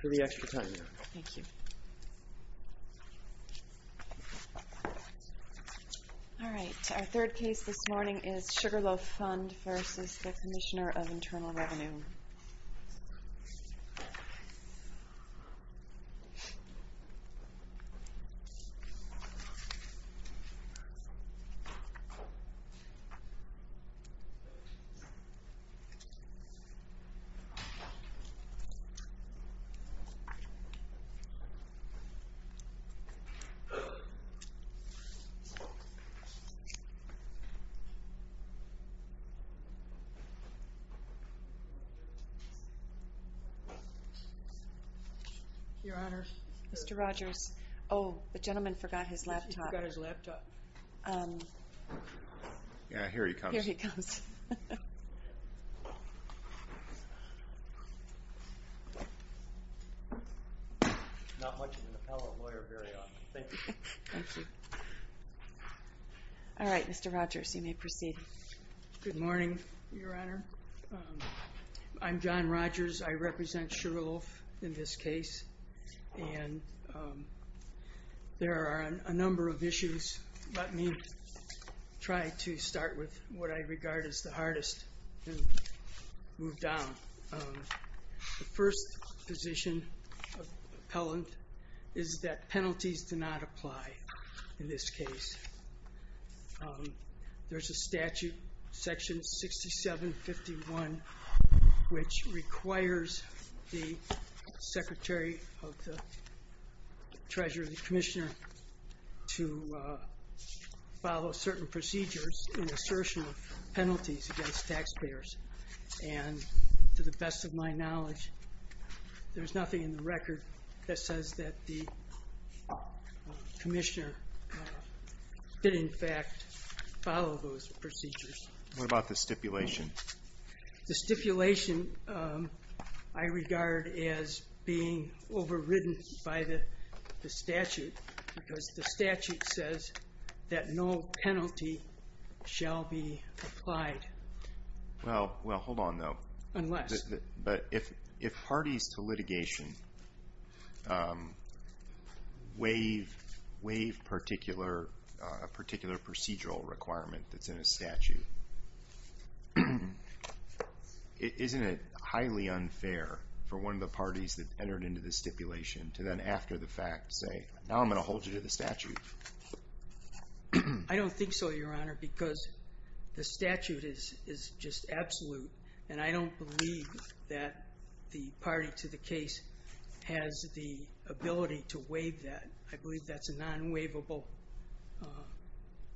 for the extra time. Thank you. Alright, our third case this morning is Sugarloaf Fund versus the Commissioner of Internal Revenue. Your Honor. Mr. Rogers. Oh, the gentleman forgot his laptop. He forgot his laptop. Yeah, here he comes. Here he comes. Not much of an appellate lawyer, very often. Thank you. Thank you. Alright, Mr. Rogers, you may proceed. Good morning, Your Honor. I'm John Rogers. I represent Sugarloaf in this case. And there are a number of issues. Let me try to start with what I regard as the hardest and move down. The first position of the appellant is that penalties do not apply in this case. There's a statute, section 6751, which requires the Secretary of the Treasurer, the Commissioner, to follow certain procedures in assertion of penalties against taxpayers. And to the best of my knowledge, there's nothing in the record that says that the Commissioner did in fact follow those procedures. What about the stipulation? The stipulation I regard as being overridden by the statute because the statute says that no penalty shall be applied. Well, hold on though. Unless? But if parties to litigation waive a particular procedural requirement that's in a statute, isn't it highly unfair for one of the parties that entered into the stipulation to then after the fact say, now I'm going to hold you to the statute? I don't think so, Your Honor, because the statute is just absolute and I don't believe that the party to the case has the ability to waive that. I believe that's a non-waivable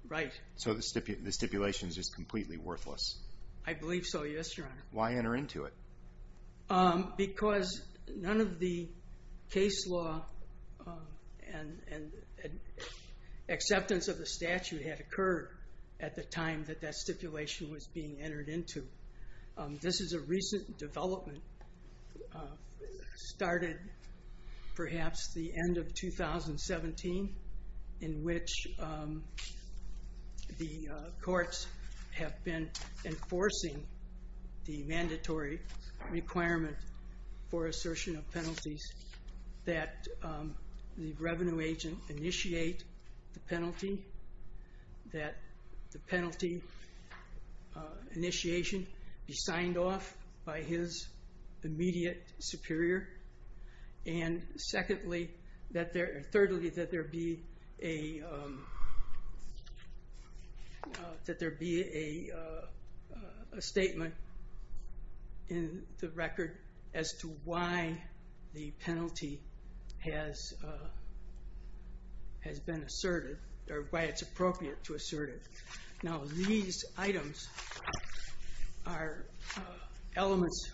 right. So the stipulation is just completely worthless? I believe so, yes, Your Honor. Why enter into it? Because none of the case law and acceptance of the statute had occurred at the time that that stipulation was being entered into. This is a recent development, started perhaps the end of 2017, in which the courts have been enforcing the mandatory requirement for assertion of penalties that the revenue agent initiate the penalty, that the penalty initiation be signed off by his immediate superior, and thirdly, that there be a statement in the record as to why the penalty has been asserted, or why it's appropriate to assert it. Now these items are elements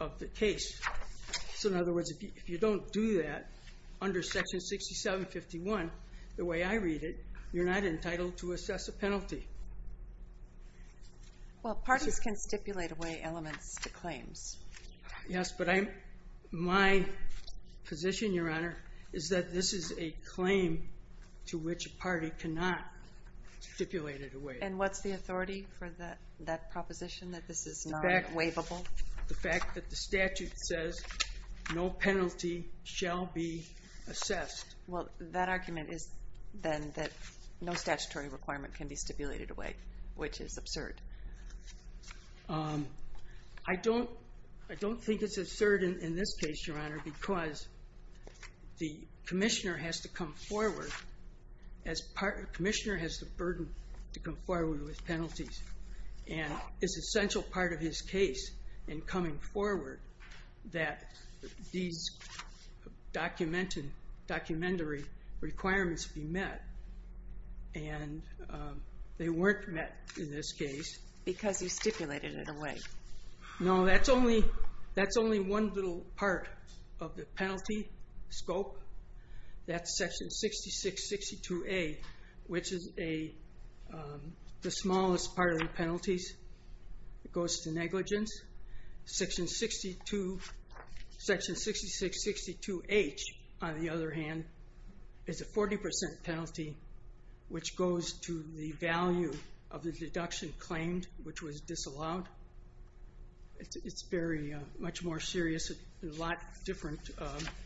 of the case. So in other words, if you don't do that under section 6751, the way I read it, you're not entitled to assess a penalty. Well, parties can stipulate away elements to claims. Yes, but my position, Your Honor, is that this is a claim to which a party cannot stipulate it away. And what's the authority for that proposition, that this is non-waivable? The fact that the statute says no penalty shall be assessed. Well, that argument is then that no statutory requirement can be stipulated away, which is absurd. I don't think it's absurd in this case, Your Honor, because the commissioner has to come forward. The commissioner has the burden to come forward with penalties. And it's an essential part of his case in coming forward that these documentary requirements be met. And they weren't met in this case. Because you stipulated it away. No, that's only one little part of the penalty scope. That's section 6662A, which is the smallest part of the penalties. It goes to negligence. Section 6662H, on the other hand, is a 40% penalty, which goes to the value of the deduction claimed, which was disallowed. It's very much more serious and a lot different.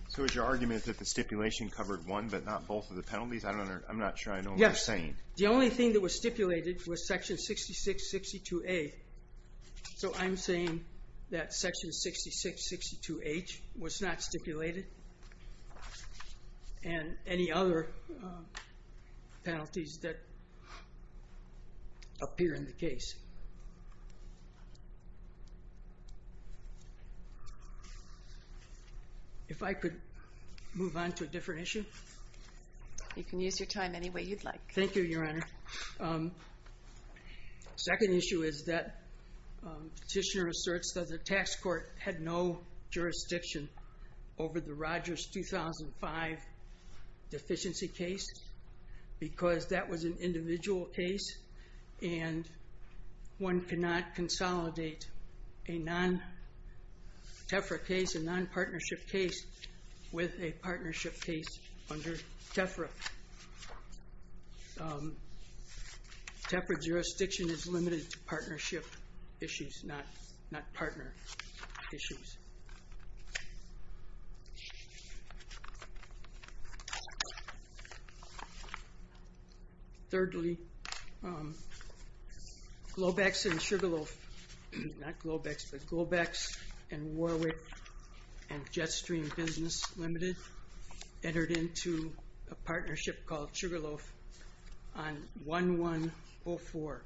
So is your argument that the stipulation covered one but not both of the penalties? I'm not sure I know what you're saying. Yes, the only thing that was stipulated was section 6662A. So I'm saying that section 6662H was not stipulated and any other penalties that appear in the case. If I could move on to a different issue. You can use your time any way you'd like. Thank you, Your Honor. The second issue is that petitioner asserts that the tax court had no jurisdiction over the Rogers 2005 deficiency case. Because that was an individual case and one cannot consolidate a non-TEFRA case, a non-partnership case, with a partnership case under TEFRA. TEFRA jurisdiction is limited to partnership issues, not partner issues. Thirdly, Globex and Sugarloaf, not Globex, but Globex and Warwick and Jetstream Business Limited entered into a partnership called Sugarloaf on 1104.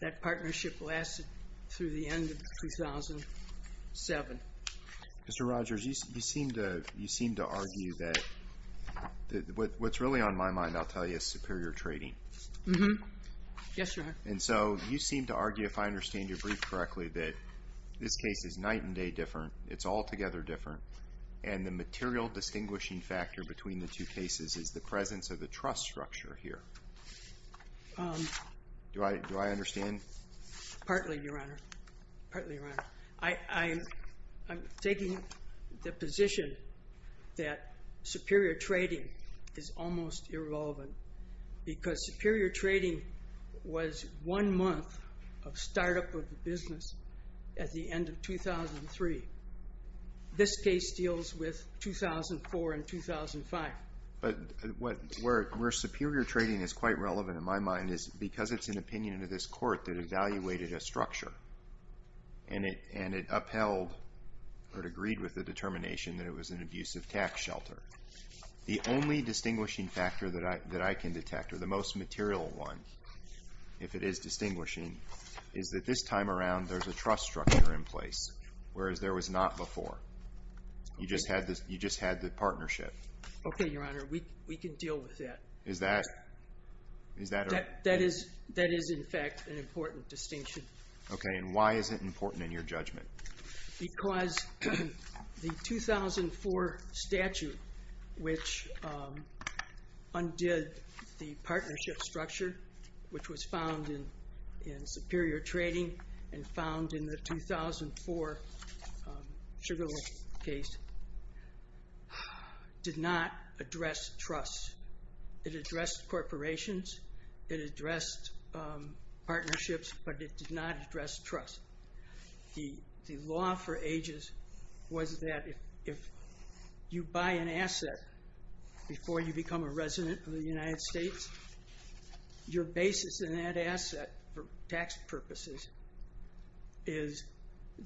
That partnership lasted through the end of 2007. Mr. Rogers, you seem to argue that what's really on my mind, I'll tell you, is superior trading. Yes, Your Honor. And so you seem to argue, if I understand your brief correctly, that this case is night and day different. It's altogether different. And the material distinguishing factor between the two cases is the presence of the trust structure here. Do I understand? Partly, Your Honor. Partly, Your Honor. I'm taking the position that superior trading is almost irrelevant. Because superior trading was one month of startup of the business at the end of 2003. This case deals with 2004 and 2005. But where superior trading is quite relevant, in my mind, is because it's an opinion of this court that evaluated a structure. And it upheld or it agreed with the determination that it was an abusive tax shelter. The only distinguishing factor that I can detect, or the most material one, if it is distinguishing, is that this time around there's a trust structure in place, whereas there was not before. You just had the partnership. Okay, Your Honor. We can deal with that. Is that? That is, in fact, an important distinction. Okay, and why is it important in your judgment? Because the 2004 statute, which undid the partnership structure, which was found in superior trading and found in the 2004 Sugar Lake case, did not address trust. It addressed corporations. It addressed partnerships. But it did not address trust. The law for ages was that if you buy an asset before you become a resident of the United States, your basis in that asset for tax purposes is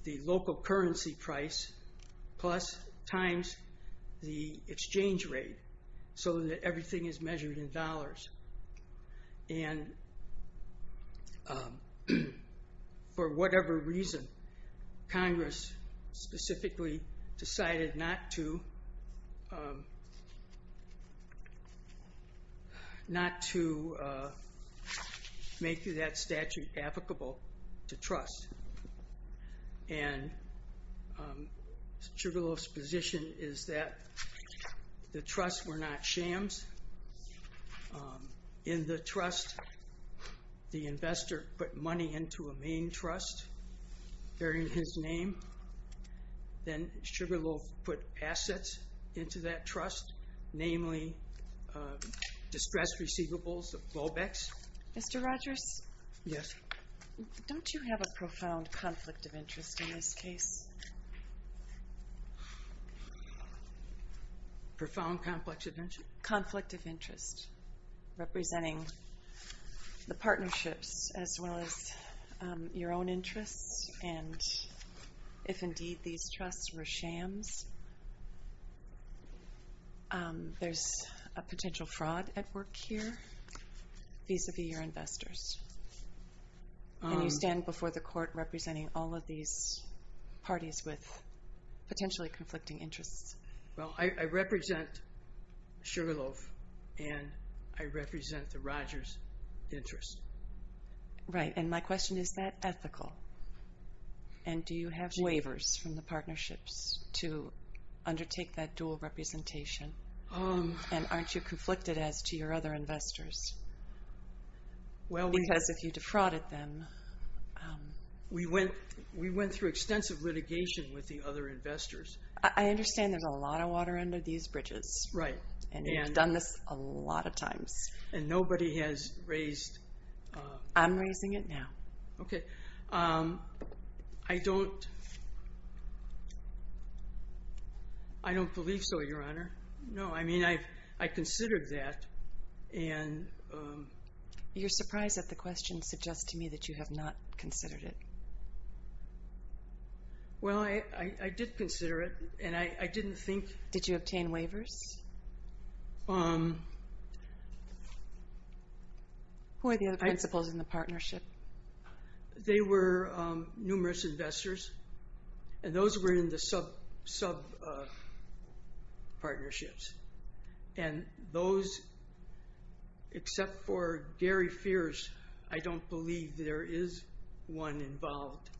the local currency price plus times the exchange rate so that everything is measured in dollars. And for whatever reason, Congress specifically decided not to make that statute applicable to trust. And Sugar Loaf's position is that the trusts were not shams. In the trust, the investor put money into a main trust bearing his name. Then Sugar Loaf put assets into that trust, namely distress receivables, the BOBEX. Mr. Rogers? Yes? Don't you have a profound conflict of interest in this case? Profound conflict of interest? Conflict of interest, representing the partnerships as well as your own interests, and if indeed these trusts were shams. There's a potential fraud at work here vis-à-vis your investors. And you stand before the court representing all of these parties with potentially conflicting interests. Well, I represent Sugar Loaf, and I represent the Rogers interest. Right, and my question is, is that ethical? And do you have waivers from the partnerships to undertake that dual representation? And aren't you conflicted as to your other investors? Because if you defrauded them— We went through extensive litigation with the other investors. I understand there's a lot of water under these bridges. Right. And you've done this a lot of times. And nobody has raised— I'm raising it now. Okay. I don't believe so, Your Honor. No, I mean, I considered that, and— You're surprised that the question suggests to me that you have not considered it. Well, I did consider it, and I didn't think— Did you obtain waivers? Um— Who are the other principals in the partnership? They were numerous investors, and those were in the sub-partnerships. And those, except for Gary Fierce, I don't believe there is one involved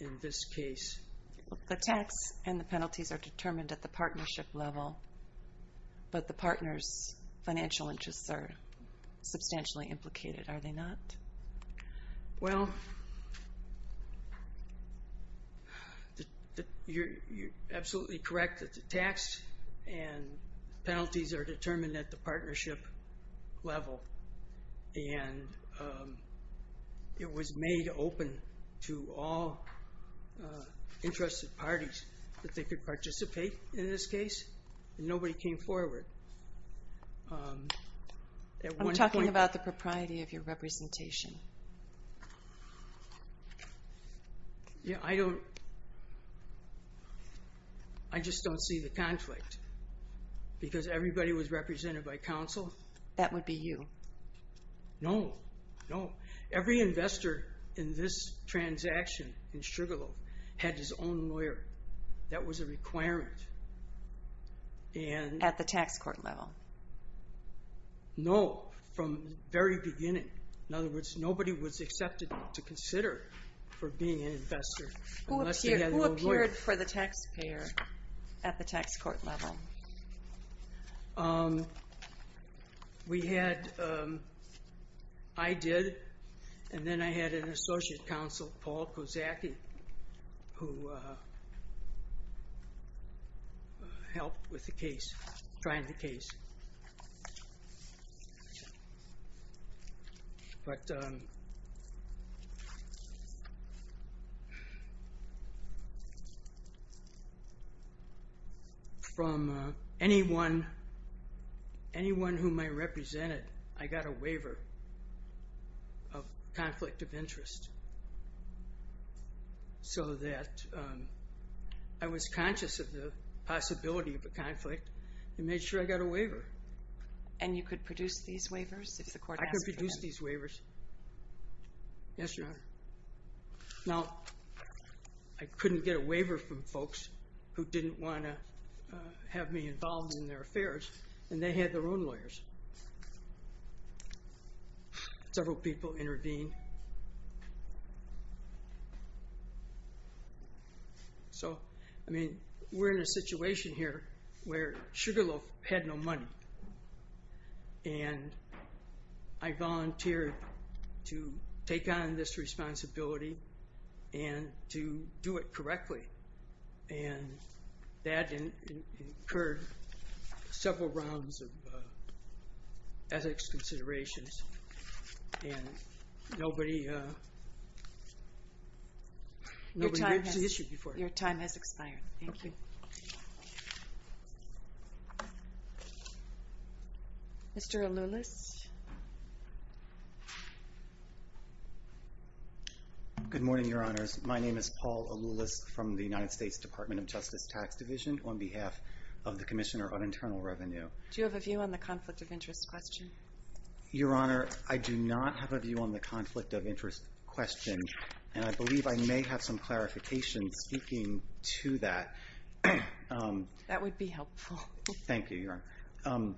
in this case. The tax and the penalties are determined at the partnership level, but the partners' financial interests are substantially implicated, are they not? Well, you're absolutely correct that the tax and penalties are determined at the partnership level. And it was made open to all interested parties that they could participate in this case, and nobody came forward. I'm talking about the propriety of your representation. Yeah, I don't—I just don't see the conflict, because everybody was represented by counsel. That would be you. No, no. Every investor in this transaction in Sugarloaf had his own lawyer. That was a requirement. At the tax court level? No, from the very beginning. In other words, nobody was accepted to consider for being an investor unless he had a lawyer. Who appeared for the taxpayer at the tax court level? We had—I did, and then I had an associate counsel, Paul Kozacki, who helped with the case, trying the case. But from anyone whom I represented, I got a waiver of conflict of interest so that I was conscious of the possibility of a conflict and made sure I got a waiver. And you could produce these waivers if the court asked for them? I could produce these waivers. Yes, Your Honor. Now, I couldn't get a waiver from folks who didn't want to have me involved in their affairs, and they had their own lawyers. Several people intervened. So, I mean, we're in a situation here where Sugarloaf had no money, and I volunteered to take on this responsibility and to do it correctly. And that incurred several rounds of ethics considerations, and nobody reached the issue before. Your time has expired. Thank you. Mr. Aloulis. Good morning, Your Honors. My name is Paul Aloulis from the United States Department of Justice Tax Division on behalf of the Commissioner on Internal Revenue. Do you have a view on the conflict of interest question? Your Honor, I do not have a view on the conflict of interest question, and I believe I may have some clarification speaking to that. That would be helpful. Thank you, Your Honor.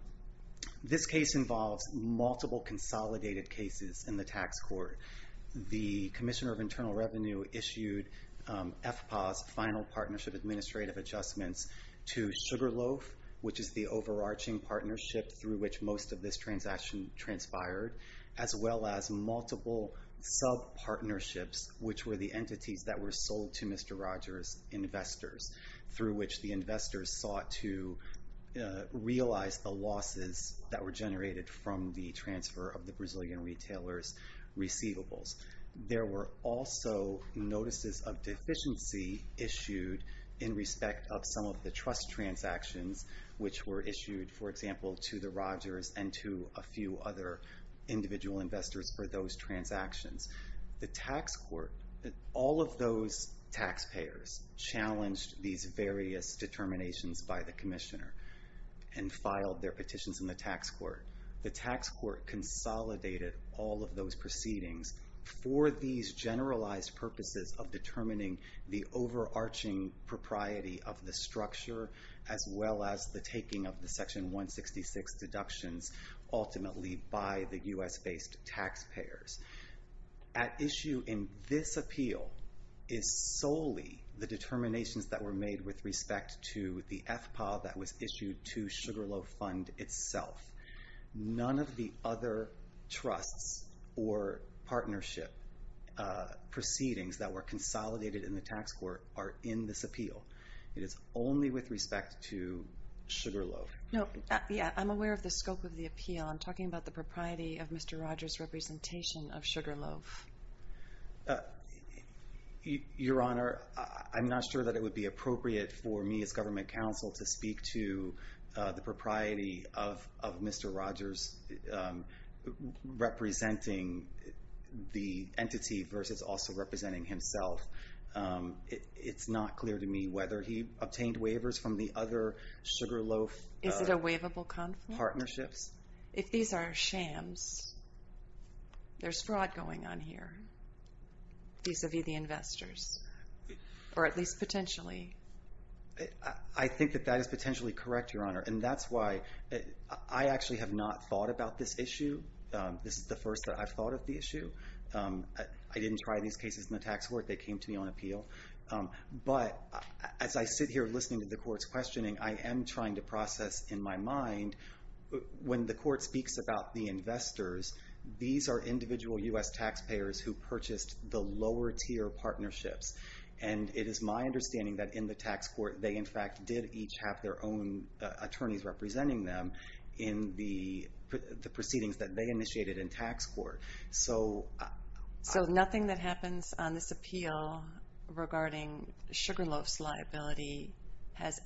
This case involves multiple consolidated cases in the tax court. The Commissioner of Internal Revenue issued FPAA's Final Partnership Administrative Adjustments to Sugarloaf, which is the overarching partnership through which most of this transaction transpired, as well as multiple subpartnerships, which were the entities that were sold to Mr. Rogers' investors, through which the investors sought to realize the losses that were generated from the transfer of the Brazilian retailers' receivables. There were also notices of deficiency issued in respect of some of the trust transactions, which were issued, for example, to the Rogers and to a few other individual investors for those transactions. The tax court, all of those taxpayers challenged these various determinations by the Commissioner and filed their petitions in the tax court. The tax court consolidated all of those proceedings for these generalized purposes of determining the overarching propriety of the structure, as well as the taking of the Section 166 deductions ultimately by the U.S.-based taxpayers. At issue in this appeal is solely the determinations that were made with respect to the FPAA that was issued to Sugarloaf Fund itself. None of the other trusts or partnership proceedings that were consolidated in the tax court are in this appeal. It is only with respect to Sugarloaf. I'm aware of the scope of the appeal. I'm talking about the propriety of Mr. Rogers' representation of Sugarloaf. Your Honor, I'm not sure that it would be appropriate for me as government counsel to speak to the propriety of Mr. Rogers representing the entity versus also representing himself. It's not clear to me whether he obtained waivers from the other Sugarloaf partnerships. Is it a waivable conflict? If these are shams, there's fraud going on here vis-à-vis the investors, or at least potentially. I think that that is potentially correct, Your Honor, and that's why I actually have not thought about this issue. This is the first that I've thought of the issue. I didn't try these cases in the tax court. They came to me on appeal. But as I sit here listening to the court's questioning, I am trying to process in my mind, when the court speaks about the investors, these are individual U.S. taxpayers who purchased the lower-tier partnerships. And it is my understanding that in the tax court, they, in fact, did each have their own attorneys representing them in the proceedings that they initiated in tax court. So nothing that happens on this appeal regarding Sugarloaf's liability has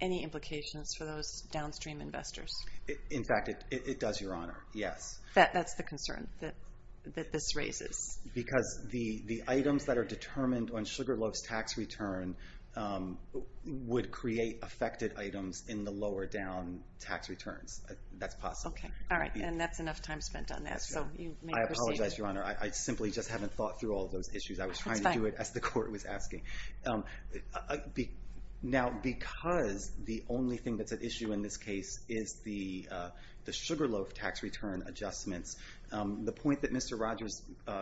any implications for those downstream investors? In fact, it does, Your Honor, yes. That's the concern that this raises? Because the items that are determined on Sugarloaf's tax return would create affected items in the lower-down tax returns. That's possible. Okay, all right, and that's enough time spent on that. So you may proceed. I apologize, Your Honor. I simply just haven't thought through all those issues. That's fine. I was trying to do it as the court was asking. Now, because the only thing that's at issue in this case is the Sugarloaf tax return adjustments, the point that Mr. Rogers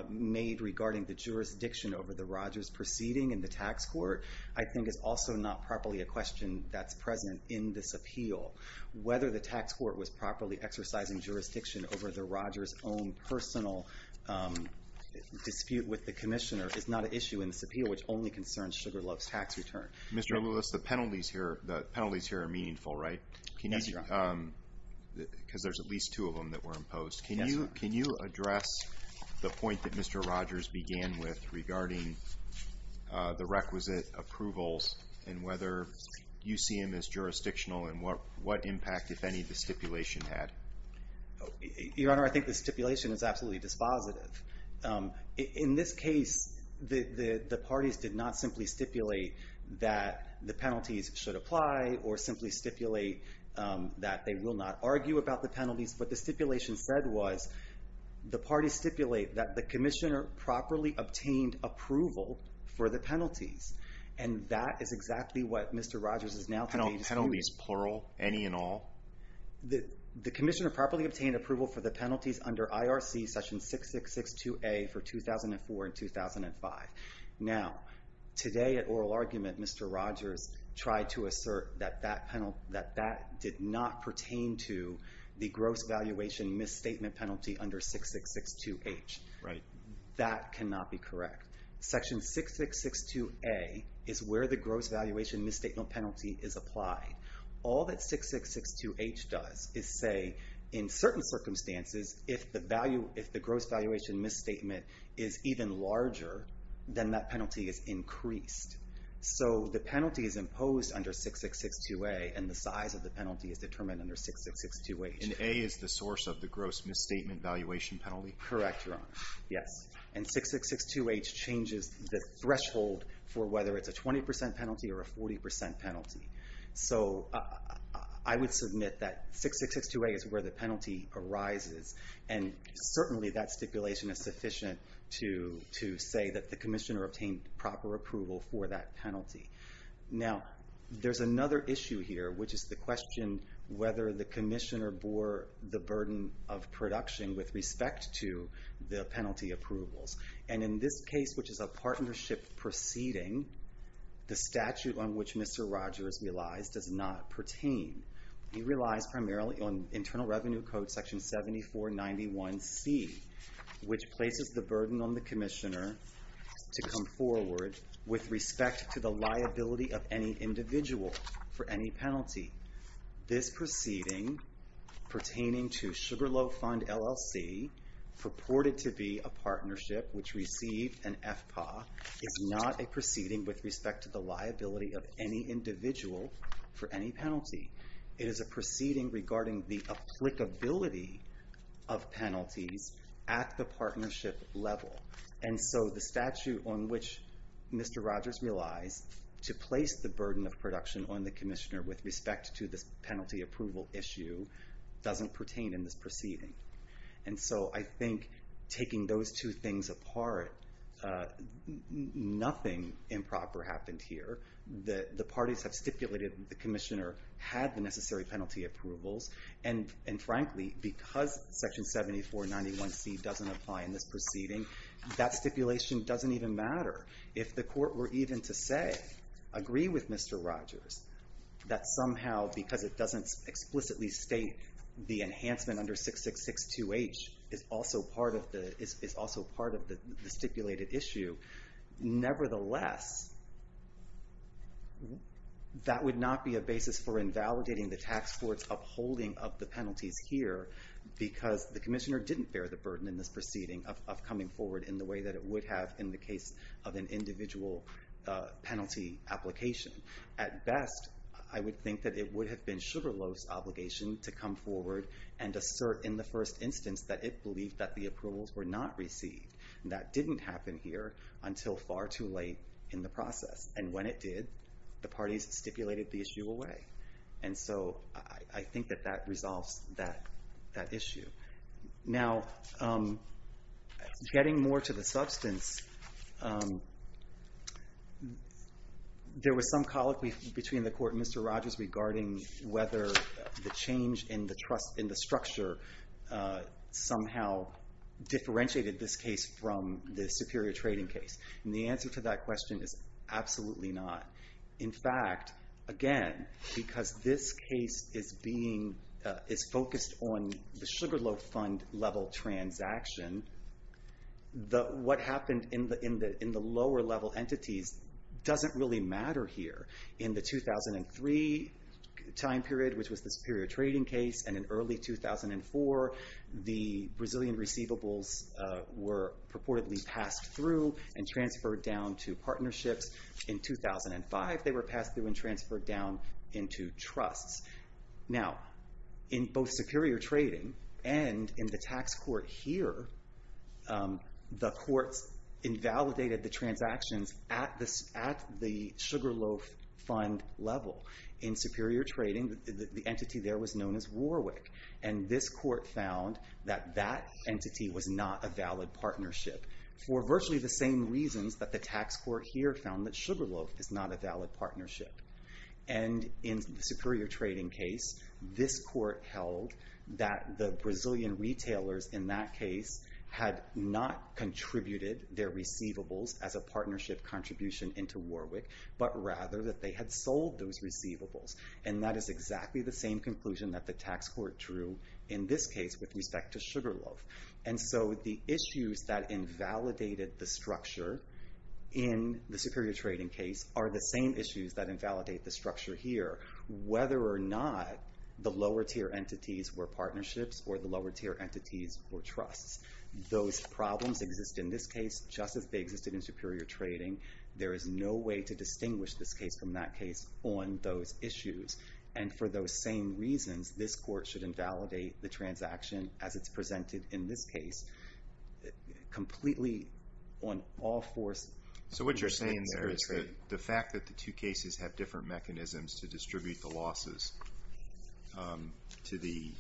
made regarding the jurisdiction over the Rogers proceeding in the tax court, I think is also not properly a question that's present in this appeal. Whether the tax court was properly exercising jurisdiction over the Rogers' own personal dispute with the commissioner is not an issue in this appeal, which only concerns Sugarloaf's tax return. Mr. Lewis, the penalties here are meaningful, right? Yes, Your Honor. Because there's at least two of them that were imposed. Yes, Your Honor. Can you address the point that Mr. Rogers began with regarding the requisite approvals and whether UCM is jurisdictional and what impact, if any, the stipulation had? Your Honor, I think the stipulation is absolutely dispositive. In this case, the parties did not simply stipulate that the penalties should apply or simply stipulate that they will not argue about the penalties. What the stipulation said was the parties stipulate that the commissioner properly obtained approval for the penalties, and that is exactly what Mr. Rogers is now saying. Penalties, plural? Any and all? The commissioner properly obtained approval for the penalties under IRC section 6662A for 2004 and 2005. Now, today at oral argument, Mr. Rogers tried to assert that that did not pertain to the gross valuation misstatement penalty under 6662H. Right. That cannot be correct. Section 6662A is where the gross valuation misstatement penalty is applied. All that 6662H does is say, in certain circumstances, if the gross valuation misstatement is even larger, then that penalty is increased. So the penalty is imposed under 6662A, and the size of the penalty is determined under 6662H. And A is the source of the gross misstatement valuation penalty? Correct, Your Honor. Yes. And 6662H changes the threshold for whether it's a 20% penalty or a 40% penalty. So I would submit that 6662A is where the penalty arises, and certainly that stipulation is sufficient to say that the commissioner obtained proper approval for that penalty. Now, there's another issue here, which is the question whether the commissioner bore the burden of production with respect to the penalty approvals. And in this case, which is a partnership proceeding, the statute on which Mr. Rogers relies does not pertain. He relies primarily on Internal Revenue Code Section 7491C, which places the burden on the commissioner to come forward with respect to the liability of any individual for any penalty. This proceeding pertaining to Sugarloaf Fund, LLC, purported to be a partnership which received an FPA, is not a proceeding with respect to the liability of any individual for any penalty. It is a proceeding regarding the applicability of penalties at the partnership level. And so the statute on which Mr. Rogers relies to place the burden of production on the commissioner with respect to this penalty approval issue doesn't pertain in this proceeding. And so I think taking those two things apart, nothing improper happened here. The parties have stipulated that the commissioner had the necessary penalty approvals, and frankly, because Section 7491C doesn't apply in this proceeding, that stipulation doesn't even matter. If the court were even to say, agree with Mr. Rogers, that somehow because it doesn't explicitly state the enhancement under 6662H is also part of the stipulated issue, nevertheless, that would not be a basis for invalidating the tax court's upholding of the penalties here, because the commissioner didn't bear the burden in this proceeding of coming forward in the way that it would have in the case of an individual penalty application. At best, I would think that it would have been Sugarloaf's obligation to come forward and assert in the first instance that it believed that the approvals were not received. That didn't happen here until far too late in the process. And when it did, the parties stipulated the issue away. And so I think that that resolves that issue. Now, getting more to the substance, there was some colloquy between the court and Mr. Rogers regarding whether the change in the structure somehow differentiated this case from the superior trading case. And the answer to that question is absolutely not. In fact, again, because this case is focused on the Sugarloaf fund level transaction, what happened in the lower level entities doesn't really matter here. In the 2003 time period, which was the superior trading case, and in early 2004, the Brazilian receivables were purportedly passed through and transferred down to partnerships. In 2005, they were passed through and transferred down into trusts. Now, in both superior trading and in the tax court here, the courts invalidated the transactions at the Sugarloaf fund level. In superior trading, the entity there was known as Warwick. And this court found that that entity was not a valid partnership for virtually the same reasons that the tax court here found that Sugarloaf is not a valid partnership. And in the superior trading case, this court held that the Brazilian retailers in that case had not contributed their receivables as a partnership contribution into Warwick, but rather that they had sold those receivables. And that is exactly the same conclusion that the tax court drew in this case with respect to Sugarloaf. And so the issues that invalidated the structure in the superior trading case are the same issues that invalidate the structure here, whether or not the lower tier entities were partnerships or the lower tier entities were trusts. Those problems exist in this case just as they existed in superior trading. There is no way to distinguish this case from that case on those issues. And for those same reasons, this court should invalidate the transaction as it's presented in this case completely on all fours. So what you're saying there is the fact that the two cases have different mechanisms to distribute the losses to the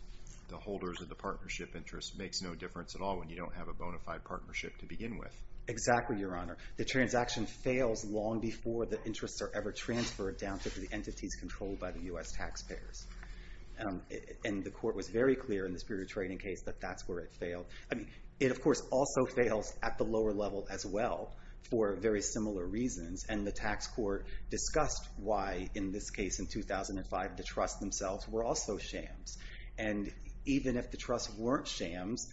holders of the partnership interest makes no difference at all when you don't have a bona fide partnership to begin with. Exactly, Your Honor. The transaction fails long before the interests are ever transferred down to the entities controlled by the U.S. taxpayers. And the court was very clear in the superior trading case that that's where it failed. I mean, it of course also fails at the lower level as well for very similar reasons. And the tax court discussed why, in this case in 2005, the trusts themselves were also shams. And even if the trusts weren't shams,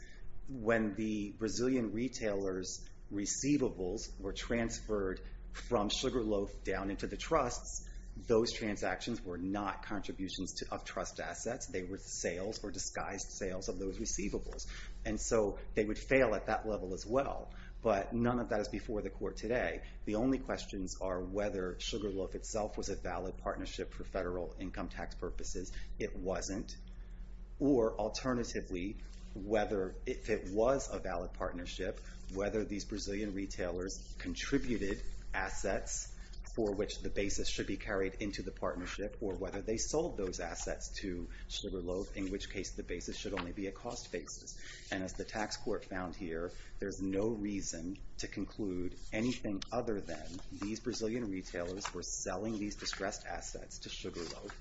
when the Brazilian retailers' receivables were transferred from Sugarloaf down into the trusts, those transactions were not contributions of trust assets. They were sales or disguised sales of those receivables. And so they would fail at that level as well. But none of that is before the court today. The only questions are whether Sugarloaf itself was a valid partnership for federal income tax purposes. It wasn't. Or alternatively, if it was a valid partnership, whether these Brazilian retailers contributed assets for which the basis should be carried into the partnership or whether they sold those assets to Sugarloaf, in which case the basis should only be a cost basis. And as the tax court found here, there's no reason to conclude anything other than these Brazilian retailers were selling these distressed assets to Sugarloaf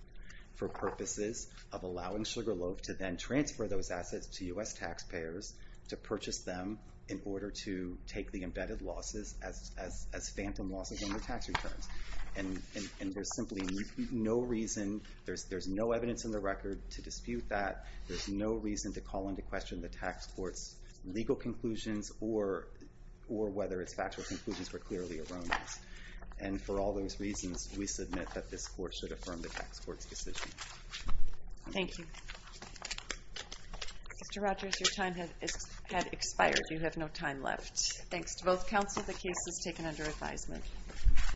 for purposes of allowing Sugarloaf to then transfer those assets to U.S. taxpayers to purchase them in order to take the embedded losses as phantom losses on their tax returns. And there's simply no reason, there's no evidence in the record to dispute that. There's no reason to call into question the tax court's legal conclusions or whether its factual conclusions were clearly erroneous. And for all those reasons, we submit that this court should affirm the tax court's decision. Thank you. Mr. Rogers, your time has expired. You have no time left. Thanks to both counsel. The case is taken under advisement.